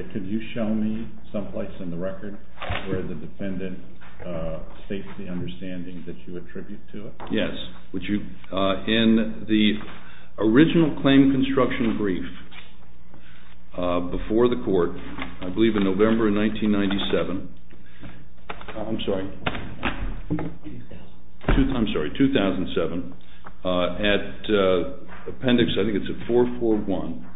2012-13-19 SPEEDTRACK v. WAL-MART STORES 2012-13-19 SPEEDTRACK v. WAL-MART STORES 2012-13-19 SPEEDTRACK v. WAL-MART STORES 2012-13-19 SPEEDTRACK v. WAL-MART STORES 2012-13-19 SPEEDTRACK v. WAL-MART STORES 2012-13-19 SPEEDTRACK v. WAL-MART STORES 2012-13-19 SPEEDTRACK v. WAL-MART STORES Original claim construction brief before the court, I believe in November of 1997. I'm sorry, 2007. At appendix, I think it's at 441.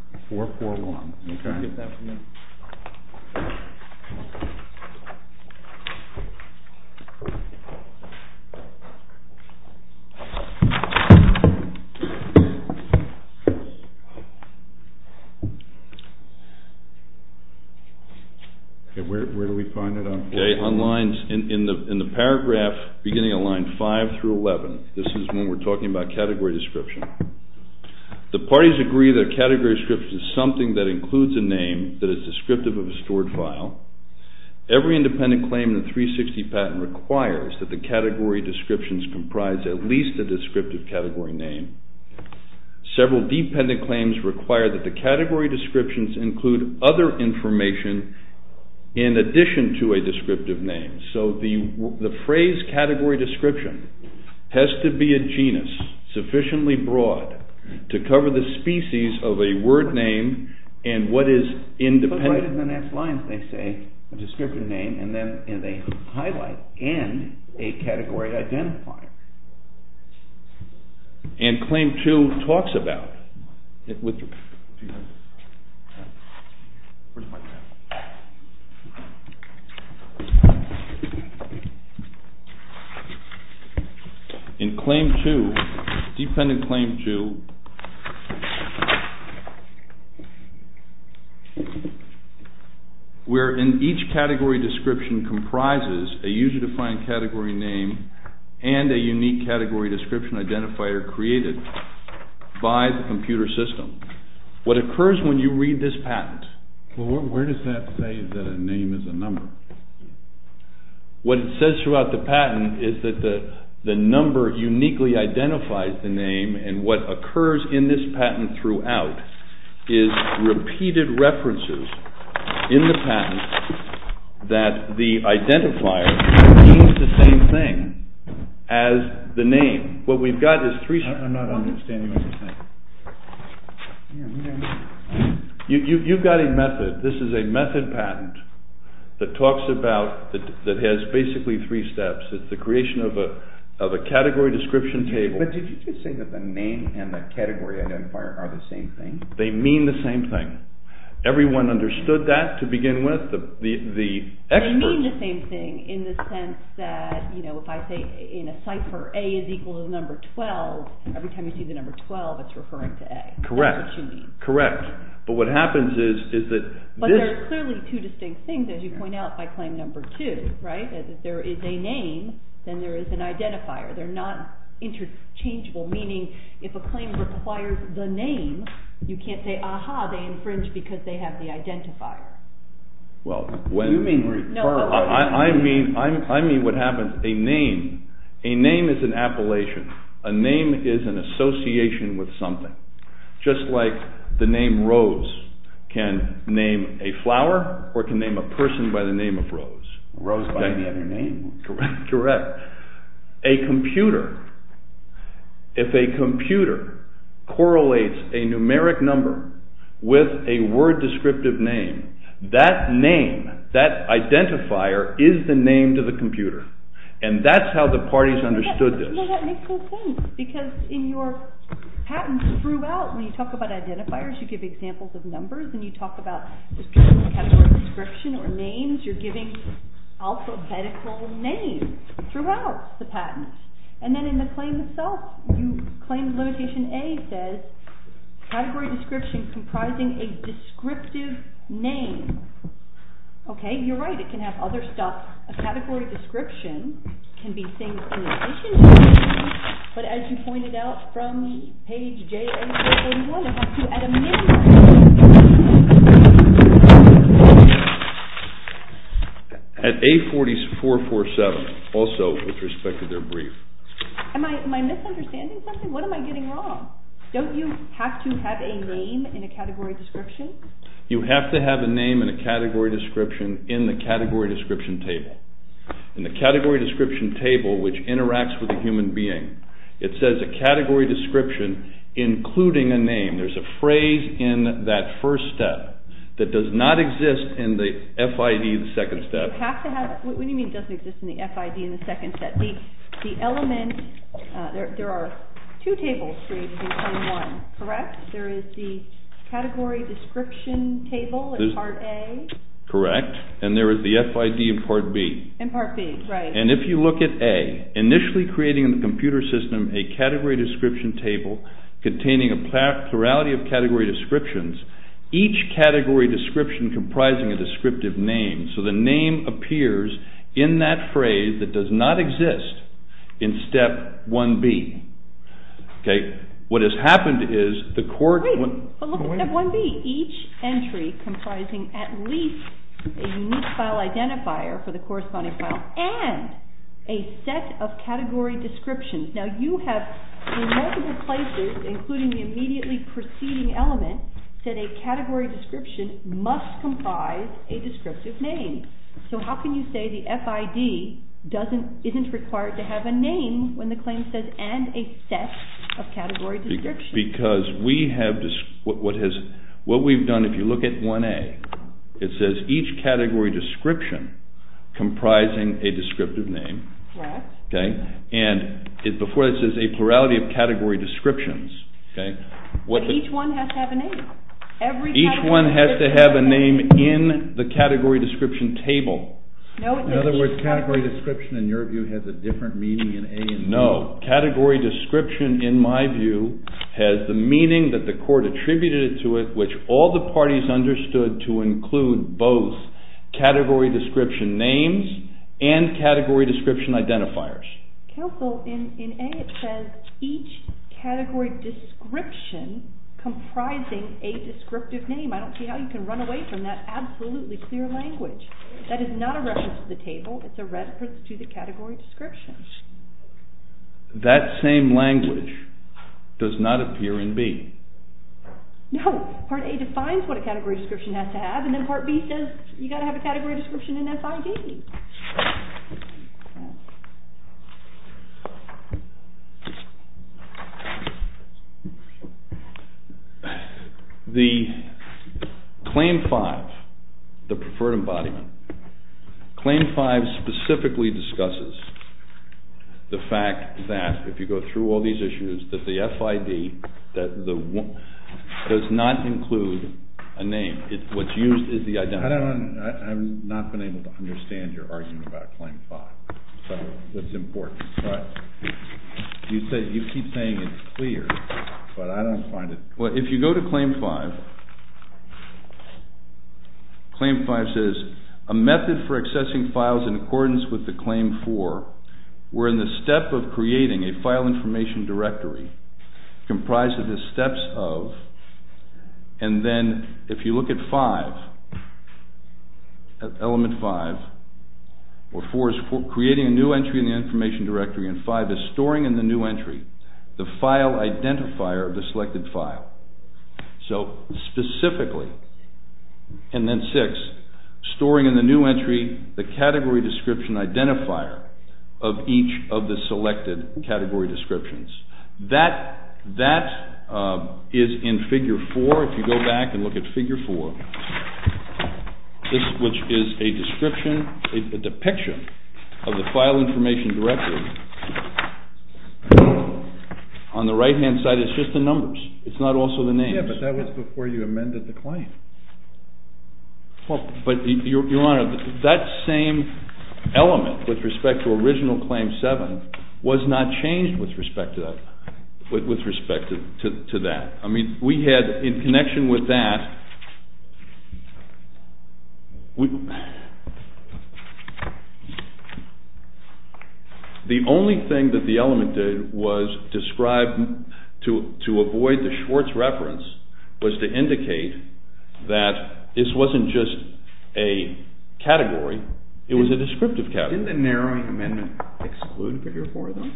Where do we find it? In the paragraph beginning of line 5-11. This is when we're talking about category description. The parties agree that a category description is something that includes a name that is descriptive of a stored file. Every independent claim in the 360 patent requires that the category descriptions comprise at least a descriptive category name. Several dependent claims require that the category descriptions include other information in addition to a descriptive name. So the phrase category description has to be a genus, sufficiently broad, to cover the species of a word name and what is independent. Put right in the next line, they say, a descriptive name and then they highlight and a category identifier. And claim 2 talks about, in claim 2, dependent claim 2, where in each category description comprises a user defined category name and a user defined category identifier. What occurs when you read this patent? Well, where does that say that a name is a number? What it says throughout the patent is that the number uniquely identifies the name and what occurs in this patent throughout is repeated references in the patent that the identifier means the same thing. I'm not understanding what you're saying. You've got a method. This is a method patent that talks about, that has basically three steps. It's the creation of a category description table. But did you just say that the name and the category identifier are the same thing? They mean the same thing. Everyone understood that to begin with. They mean the same thing in the sense that, you know, if I say in a cipher, A is equal to the number 12, every time you see the number 12, it's referring to A. Correct. That's what you mean. Correct. But what happens is that this... But there are clearly two distinct things, as you point out, by claim number 2, right? Because if there is a name, then there is an identifier. They're not interchangeable, meaning if a claim requires the name, you can't say, aha, they infringe because they have the identifier. Well, when... You mean... I mean what happens, a name, a name is an appellation. A name is an association with something. Just like the name Rose can name a flower or it can name a person by the name of Rose. Rose by any other name. Correct. A computer, if a computer correlates a numeric number with a word descriptive name, that name, that identifier is the name to the computer. And that's how the parties understood this. You know, that makes no sense, because in your patents throughout, when you talk about identifiers, you give examples of numbers and you talk about categorical description or names, you're giving alphabetical names throughout the patents. And then in the claim itself, you claim limitation A says, category description comprising a descriptive name. Okay, you're right, it can have other stuff. A category description can be things in addition to the name, but as you pointed out from page J841, it has to at a minimum... At A40447, also with respect to their brief. Am I misunderstanding something? What am I getting wrong? Don't you have to have a name in a category description? You have to have a name in a category description in the category description table. In the category description table, which interacts with a human being, it says a category description including a name. There's a phrase in that first step that does not exist in the FID in the second step. You have to have, what do you mean it doesn't exist in the FID in the second step? The element, there are two tables for you to become one, correct? There is the category description table in part A. Correct, and there is the FID in part B. And if you look at A, initially creating in the computer system a category description table containing a plurality of category descriptions, each category description comprising a descriptive name. So the name appears in that phrase that does not exist in step 1B. Okay, what has happened is the court... But look at 1B, each entry comprising at least a unique file identifier for the corresponding file and a set of category descriptions. Now you have in multiple places, including the immediately preceding element, said a category description must comprise a descriptive name. So how can you say the FID isn't required to have a name when the claim says and a set of category descriptions? Because what we've done, if you look at 1A, it says each category description comprising a descriptive name. And before it says a plurality of category descriptions. But each one has to have a name. Each one has to have a name in the category description table. In other words, category description in your view has a different meaning in A and B? No, category description in my view has the meaning that the court attributed to it, which all the parties understood to include both category description names and category description identifiers. Counsel, in A it says each category description comprising a descriptive name. I don't see how you can run away from that absolutely clear language. That is not a reference to the table, it's a reference to the category description. That same language does not appear in B. No, Part A defines what a category description has to have, and then Part B says you've got to have a category description in FID. The Claim 5, the preferred embodiment, Claim 5 specifically discusses the fact that if you go through all these issues that the FID does not include a name. What's used is the identifier. I've not been able to understand your argument about Claim 5. You keep saying it's clear, but I don't find it clear. If you go to Claim 5, Claim 5 says, a method for accessing files in accordance with the Claim 4, wherein the step of creating a file information directory comprised of the steps of, and then if you look at 5, Element 5, where 4 is creating a new entry in the information directory and 5 is storing in the new entry the file identifier of the selected file. So specifically, and then 6, storing in the new entry the category description identifier of each of the selected category descriptions. That is in Figure 4, if you go back and look at Figure 4, which is a depiction of the file information directory. On the right hand side, it's just the numbers. It's not also the names. Your Honor, that same element with respect to original Claim 7 was not changed with respect to that. In connection with that, the only thing that the element did was describe, to avoid the Schwartz reference, was to indicate that this wasn't just a category, it was a descriptive category. Didn't the narrowing amendment exclude Figure 4, though?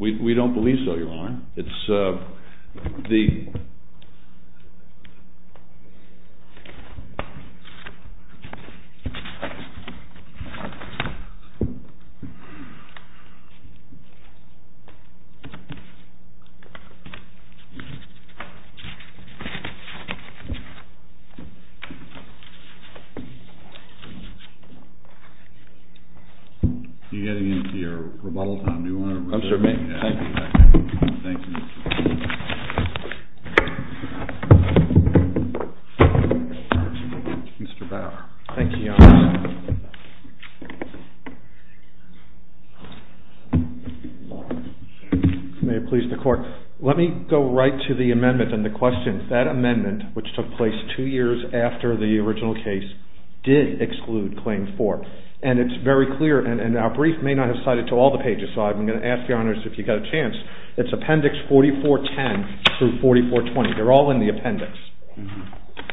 We don't believe so, Your Honor. You're getting into your rebuttal time. Thank you. Mr. Bauer. Thank you, Your Honor. May it please the Court. Let me go right to the amendment and the question. That amendment, which took place two years after the original case, did exclude Claim 4. And it's very clear, and our brief may not have cited to all the pages, so I'm going to ask Your Honor if you've got a chance. It's Appendix 4410 through 4420. They're all in the appendix.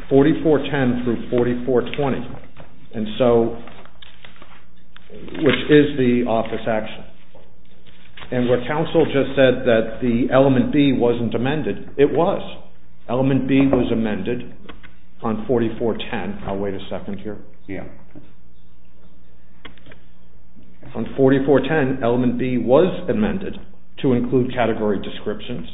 4410 through 4420, which is the office action. And where counsel just said that the element B wasn't amended, it was. Element B was amended on 4410. On 4410, element B was amended to include category descriptions.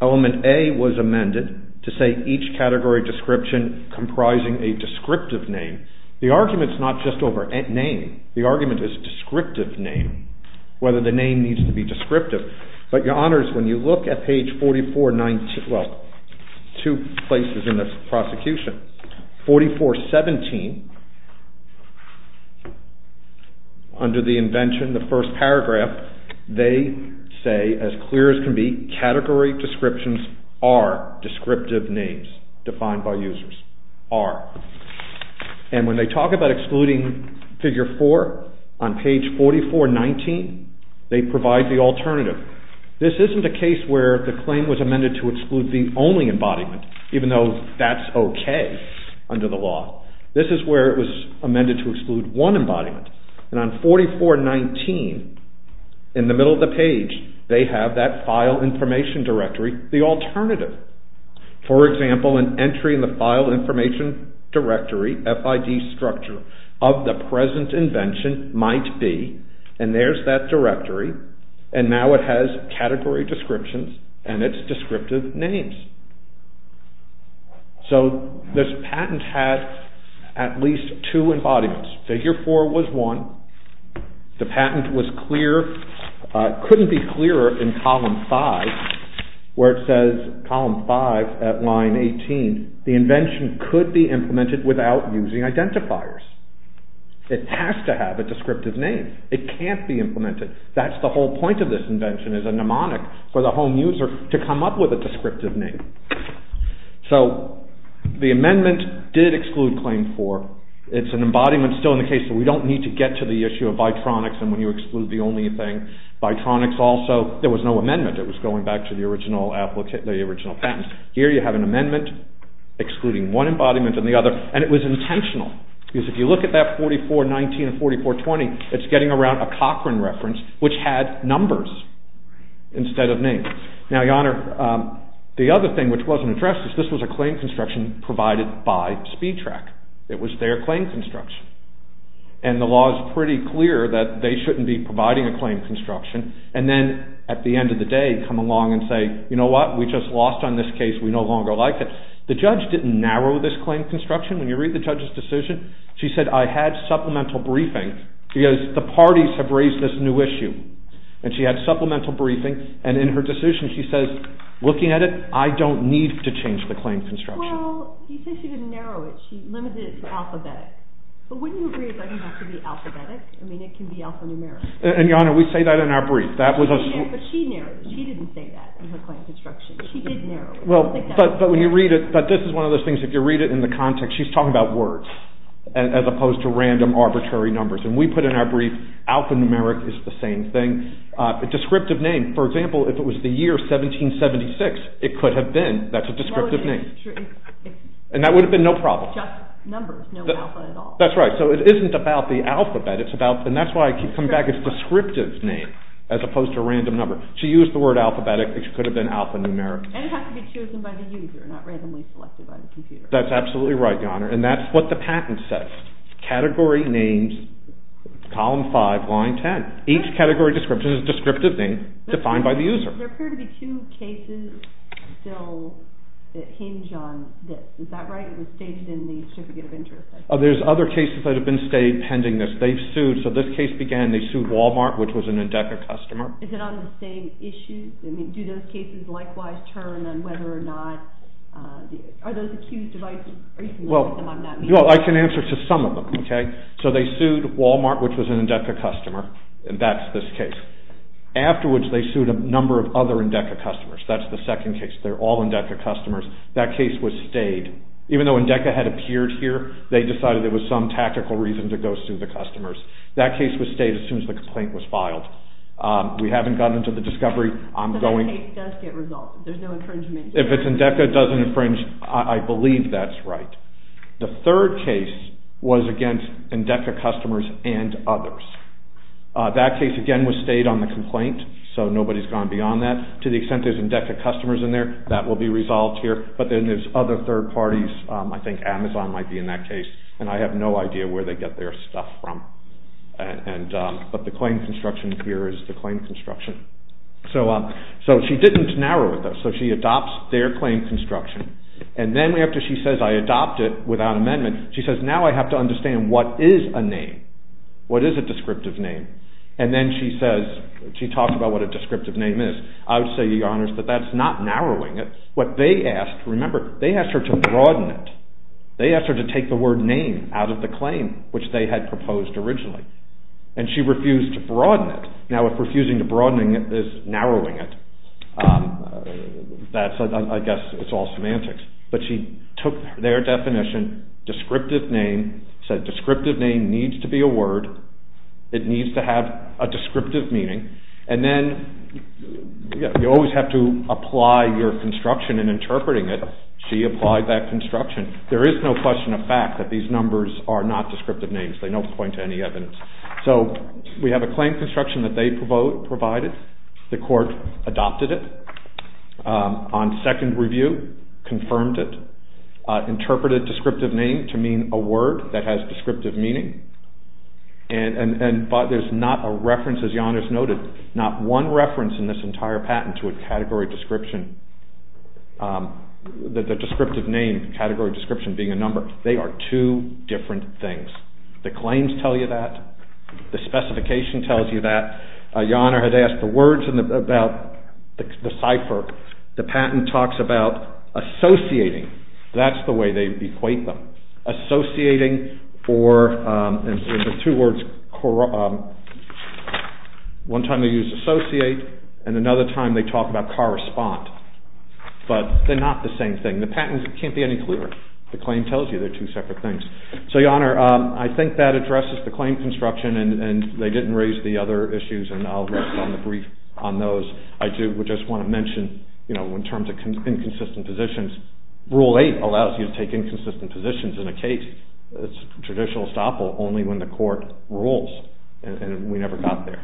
Element A was amended to say each category description comprising a descriptive name. The argument's not just over name. The argument is descriptive name, whether the name needs to be descriptive. But, Your Honors, when you look at page 4419, well, two places in this prosecution, 4417, under the invention, the first paragraph, they say, as clear as can be, category descriptions are descriptive names defined by users. Are. And when they talk about excluding Figure 4 on page 4419, they provide the alternative. This isn't a case where the claim was amended to exclude the only where it was amended to exclude one embodiment. And on 4419, in the middle of the page, they have that file information directory, the alternative. For example, an entry in the file information directory, FID structure, of the present invention might be, and there's that directory, and now it has category descriptions and its descriptive names. So, this patent had at least two embodiments. Figure 4 was one. The patent was clear, couldn't be clearer in column 5, where it says, column 5, at line 18, the invention could be implemented without using identifiers. It has to have a descriptive name. It can't be implemented. That's the whole point of this invention, is a mnemonic for the home user to come up with a descriptive name. So, the amendment did exclude Claim 4. It's an embodiment still in the case, so we don't need to get to the issue of Vitronics and when you exclude the only thing. Vitronics also, there was no amendment. It was going back to the original patent. Here you have an amendment excluding one embodiment and the other, and it was intentional. If you look at that 4419 and 4420, it's getting around a Cochran reference, which had numbers instead of names. The other thing which wasn't addressed, this was a claim construction provided by SpeedTrack. It was their claim construction, and the law is pretty clear that they shouldn't be providing a claim construction, and then, at the end of the day, come along and say, you know what, we just lost on this case, we no longer like it. The judge didn't narrow this claim construction. When you read the judge's decision, she said, I had supplemental briefing, because the parties have raised this new issue. And she had supplemental briefing, and in her decision, she says, looking at it, I don't need to change the claim construction. Well, you said she didn't narrow it. She limited it to alphabetic. But wouldn't you agree it doesn't have to be alphabetic? I mean, it can be alphanumeric. And, Your Honor, we say that in our brief. She didn't say that in her claim construction. She did narrow it. But this is one of those things, if you read it in the context, she's talking about words, as opposed to random, arbitrary numbers. And we put in our brief, alphanumeric is the same thing. A descriptive name, for example, if it was the year 1776, it could have been, that's a descriptive name. And that would have been no problem. That's right, so it isn't about the alphabet, and that's why I keep coming back, it's a descriptive name, as opposed to a random number. She used the word alphabetic, it could have been alphanumeric. And it has to be chosen by the user, not randomly selected by the computer. That's absolutely right, Your Honor, and that's what the patent says. Category names, column 5, line 10. Each category description is a descriptive name defined by the user. There appear to be two cases still that hinge on this, is that right? It was stated in the certificate of interest. There's other cases that have been stated pending this. They've sued, so this case began, they sued Walmart, which was an INDECA customer. Is it on the same issue? Do those cases likewise turn on whether or not, are those accused of... Well, I can answer to some of them, okay? So they sued Walmart, which was an INDECA customer, and that's this case. Afterwards, they sued a number of other INDECA customers, that's the second case, they're all INDECA customers. That case was stayed. Even though INDECA had appeared here, they decided there was some tactical reason to go sue the customers. That case was stayed as soon as the complaint was filed. We haven't gotten into the discovery. If it's INDECA, it doesn't infringe, I believe that's right. The third case was against INDECA customers and others. That case, again, was stayed on the complaint, so nobody's gone beyond that. To the extent there's INDECA customers in there, that will be resolved here, but then there's other third parties, I think Amazon might be in that case, and I have no idea where they get their stuff from. But the claim construction here is the claim construction. So she didn't narrow it, though, so she adopts their claim construction. And then after she says, I adopt it without amendment, she says, now I have to understand what is a name. What is a descriptive name? And then she talks about what a descriptive name is. I would say, Your Honors, that that's not narrowing it. What they asked, remember, they asked her to broaden it. They asked her to take the word name out of the claim, which they had proposed originally. And she refused to broaden it. Now, if refusing to broadening it is narrowing it, I guess it's all semantics. But she took their definition, descriptive name, said descriptive name needs to be a word, it needs to have a descriptive meaning, and then you always have to apply your construction in interpreting it. She applied that construction. There is no question of fact that these numbers are not descriptive names. They don't point to any evidence. So we have a claim construction that they provided. The court adopted it. On second review, confirmed it. Interpreted descriptive name to mean a word that has descriptive meaning. And there's not a reference, as Your Honors noted, not one reference in this entire patent to a category description, the descriptive name, category description being a number. They are two different things. The claims tell you that. The specification tells you that. Your Honor had asked the words about the cipher. The patent talks about associating. That's the way they equate them. One time they use associate and another time they talk about correspond. But they are not the same thing. The patent can't be any clearer. The claim tells you they are two separate things. So Your Honor, I think that addresses the claim construction and they didn't raise the other issues. I do just want to mention in terms of inconsistent positions, Rule 8 allows you to take inconsistent positions in a case. It's a traditional estoppel only when the court rules and we never got there.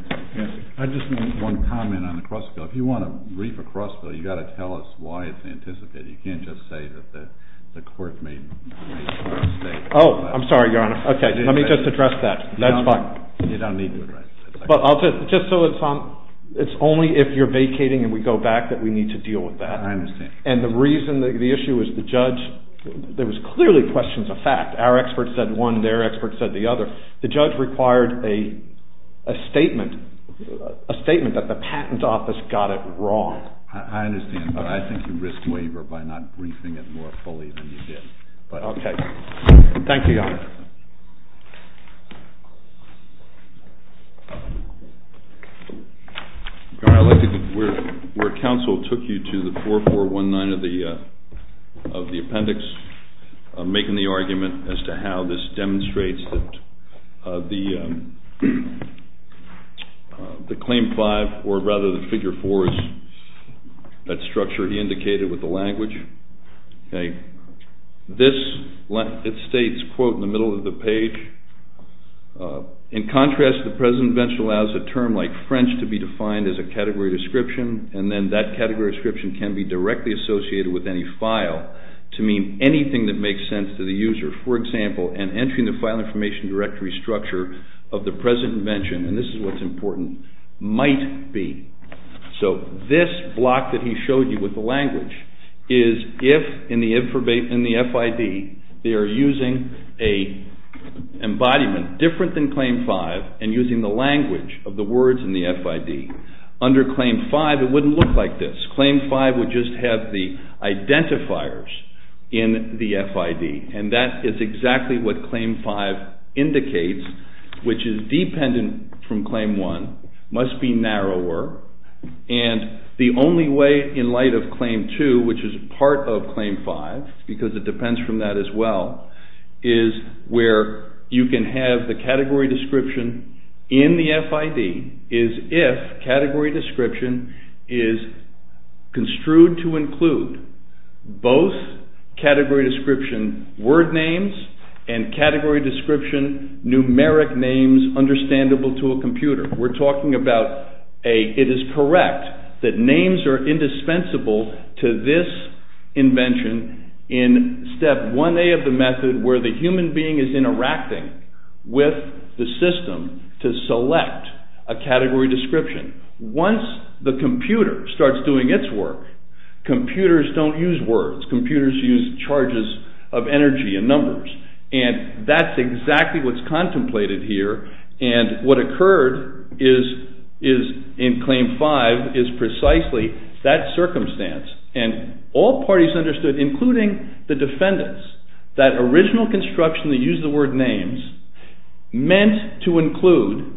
I just want one comment on the Cross Bill. If you want to brief a Cross Bill, you've got to tell us why it's anticipated. You can't just say that the court made a mistake. I'm sorry, Your Honor. Let me just address that. It's only if you're vacating and we go back that we need to deal with that. And the reason, the issue is the judge, there was clearly questions of fact. Our experts said one, their experts said the other. The judge required a statement that the patent office got it wrong. I understand, but I think you risked waiver by not briefing it more fully than you did. Okay. Thank you, Your Honor. Your Honor, I'd like to get where counsel took you to the 4419 of the appendix, making the argument as to how this demonstrates that the Claim 5, or rather the Figure 4 is that structure he indicated with the language. This, it states, quote, in the middle of the page, in contrast, the present bench allows a term like French to be defined as a category description and then that category description can be directly associated with any file to mean anything that makes sense to the user. For example, an entry in the file information directory structure of the present invention, and this is what's important, might be. So this block that he showed you with the language is if in the FID they are using an embodiment different than Claim 5 and using the language of the words in the FID, under Claim 5 it wouldn't look like this. Claim 5 would just have the identifiers in the FID, and that is exactly what Claim 5 indicates, which is dependent from Claim 1, must be narrower, and the only way in light of Claim 2, which is part of Claim 5, because it depends from that as well, is where you can have the category description in the FID is if category description is construed to include both category description word names and category description numeric names understandable to a computer. We're talking about it is correct that names are indispensable to this invention in step 1A of the method where the human being is interacting with the system to select a category description. Once the computer starts doing its work, computers don't use words, computers use charges of energy and numbers, and that's exactly what's contemplated here, and what occurred in Claim 5 is precisely that circumstance, and all parties understood, including the defendants, that original construction that used the word names meant to include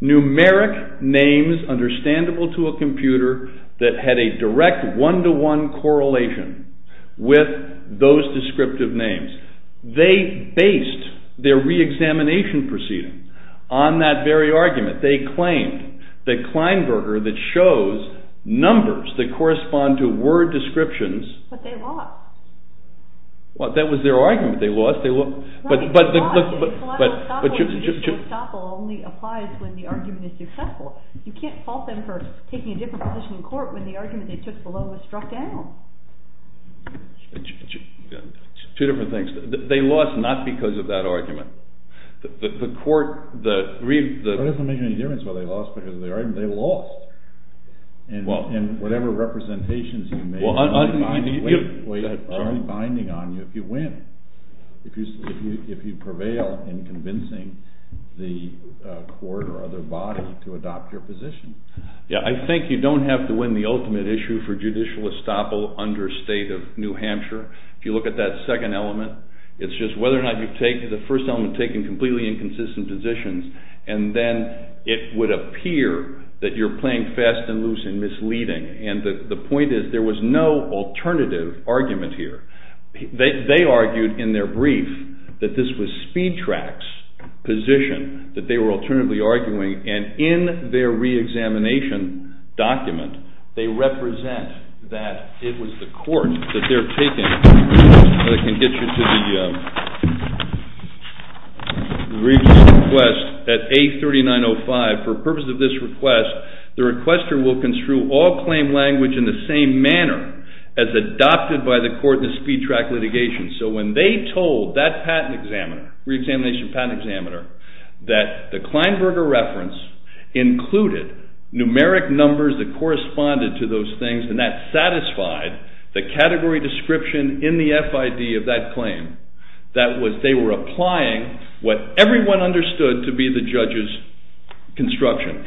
numeric names understandable to a computer that had a direct one-to-one correlation with those descriptive names. They based their re-examination proceeding on that very argument. They claimed that Kleinberger that shows numbers that correspond to word descriptions... But they lost. That was their argument, they lost, but... You can't fault them for taking a different position in court when the argument they took below was struck down. Two different things. They lost not because of that argument. That doesn't make any difference whether they lost because of the argument, they lost, and whatever representations you made, it's only binding on you if you win, if you prevail in convincing the court or other body to adopt your position. Yeah, I think you don't have to win the ultimate issue for judicial estoppel under state of New Hampshire. If you look at that second element, it's just whether or not you take the first element, taking completely inconsistent positions, and then it would appear that you're playing fast and loose and misleading, and the point is there was no alternative argument here. They argued in their brief that this was Speed Track's position, that they were alternatively arguing, and in their re-examination document they represent that it was the court that they're taking... I can get you to the request at A3905. For the purpose of this request, the requester will construe all claim language in the same manner as adopted by the court in the Speed Track litigation, so when they told that patent examiner, re-examination patent examiner, that the Kleinberger reference included numeric numbers that corresponded to those things, and that satisfied the category description in the FID of that claim, that they were applying what everyone understood to be the judge's construction.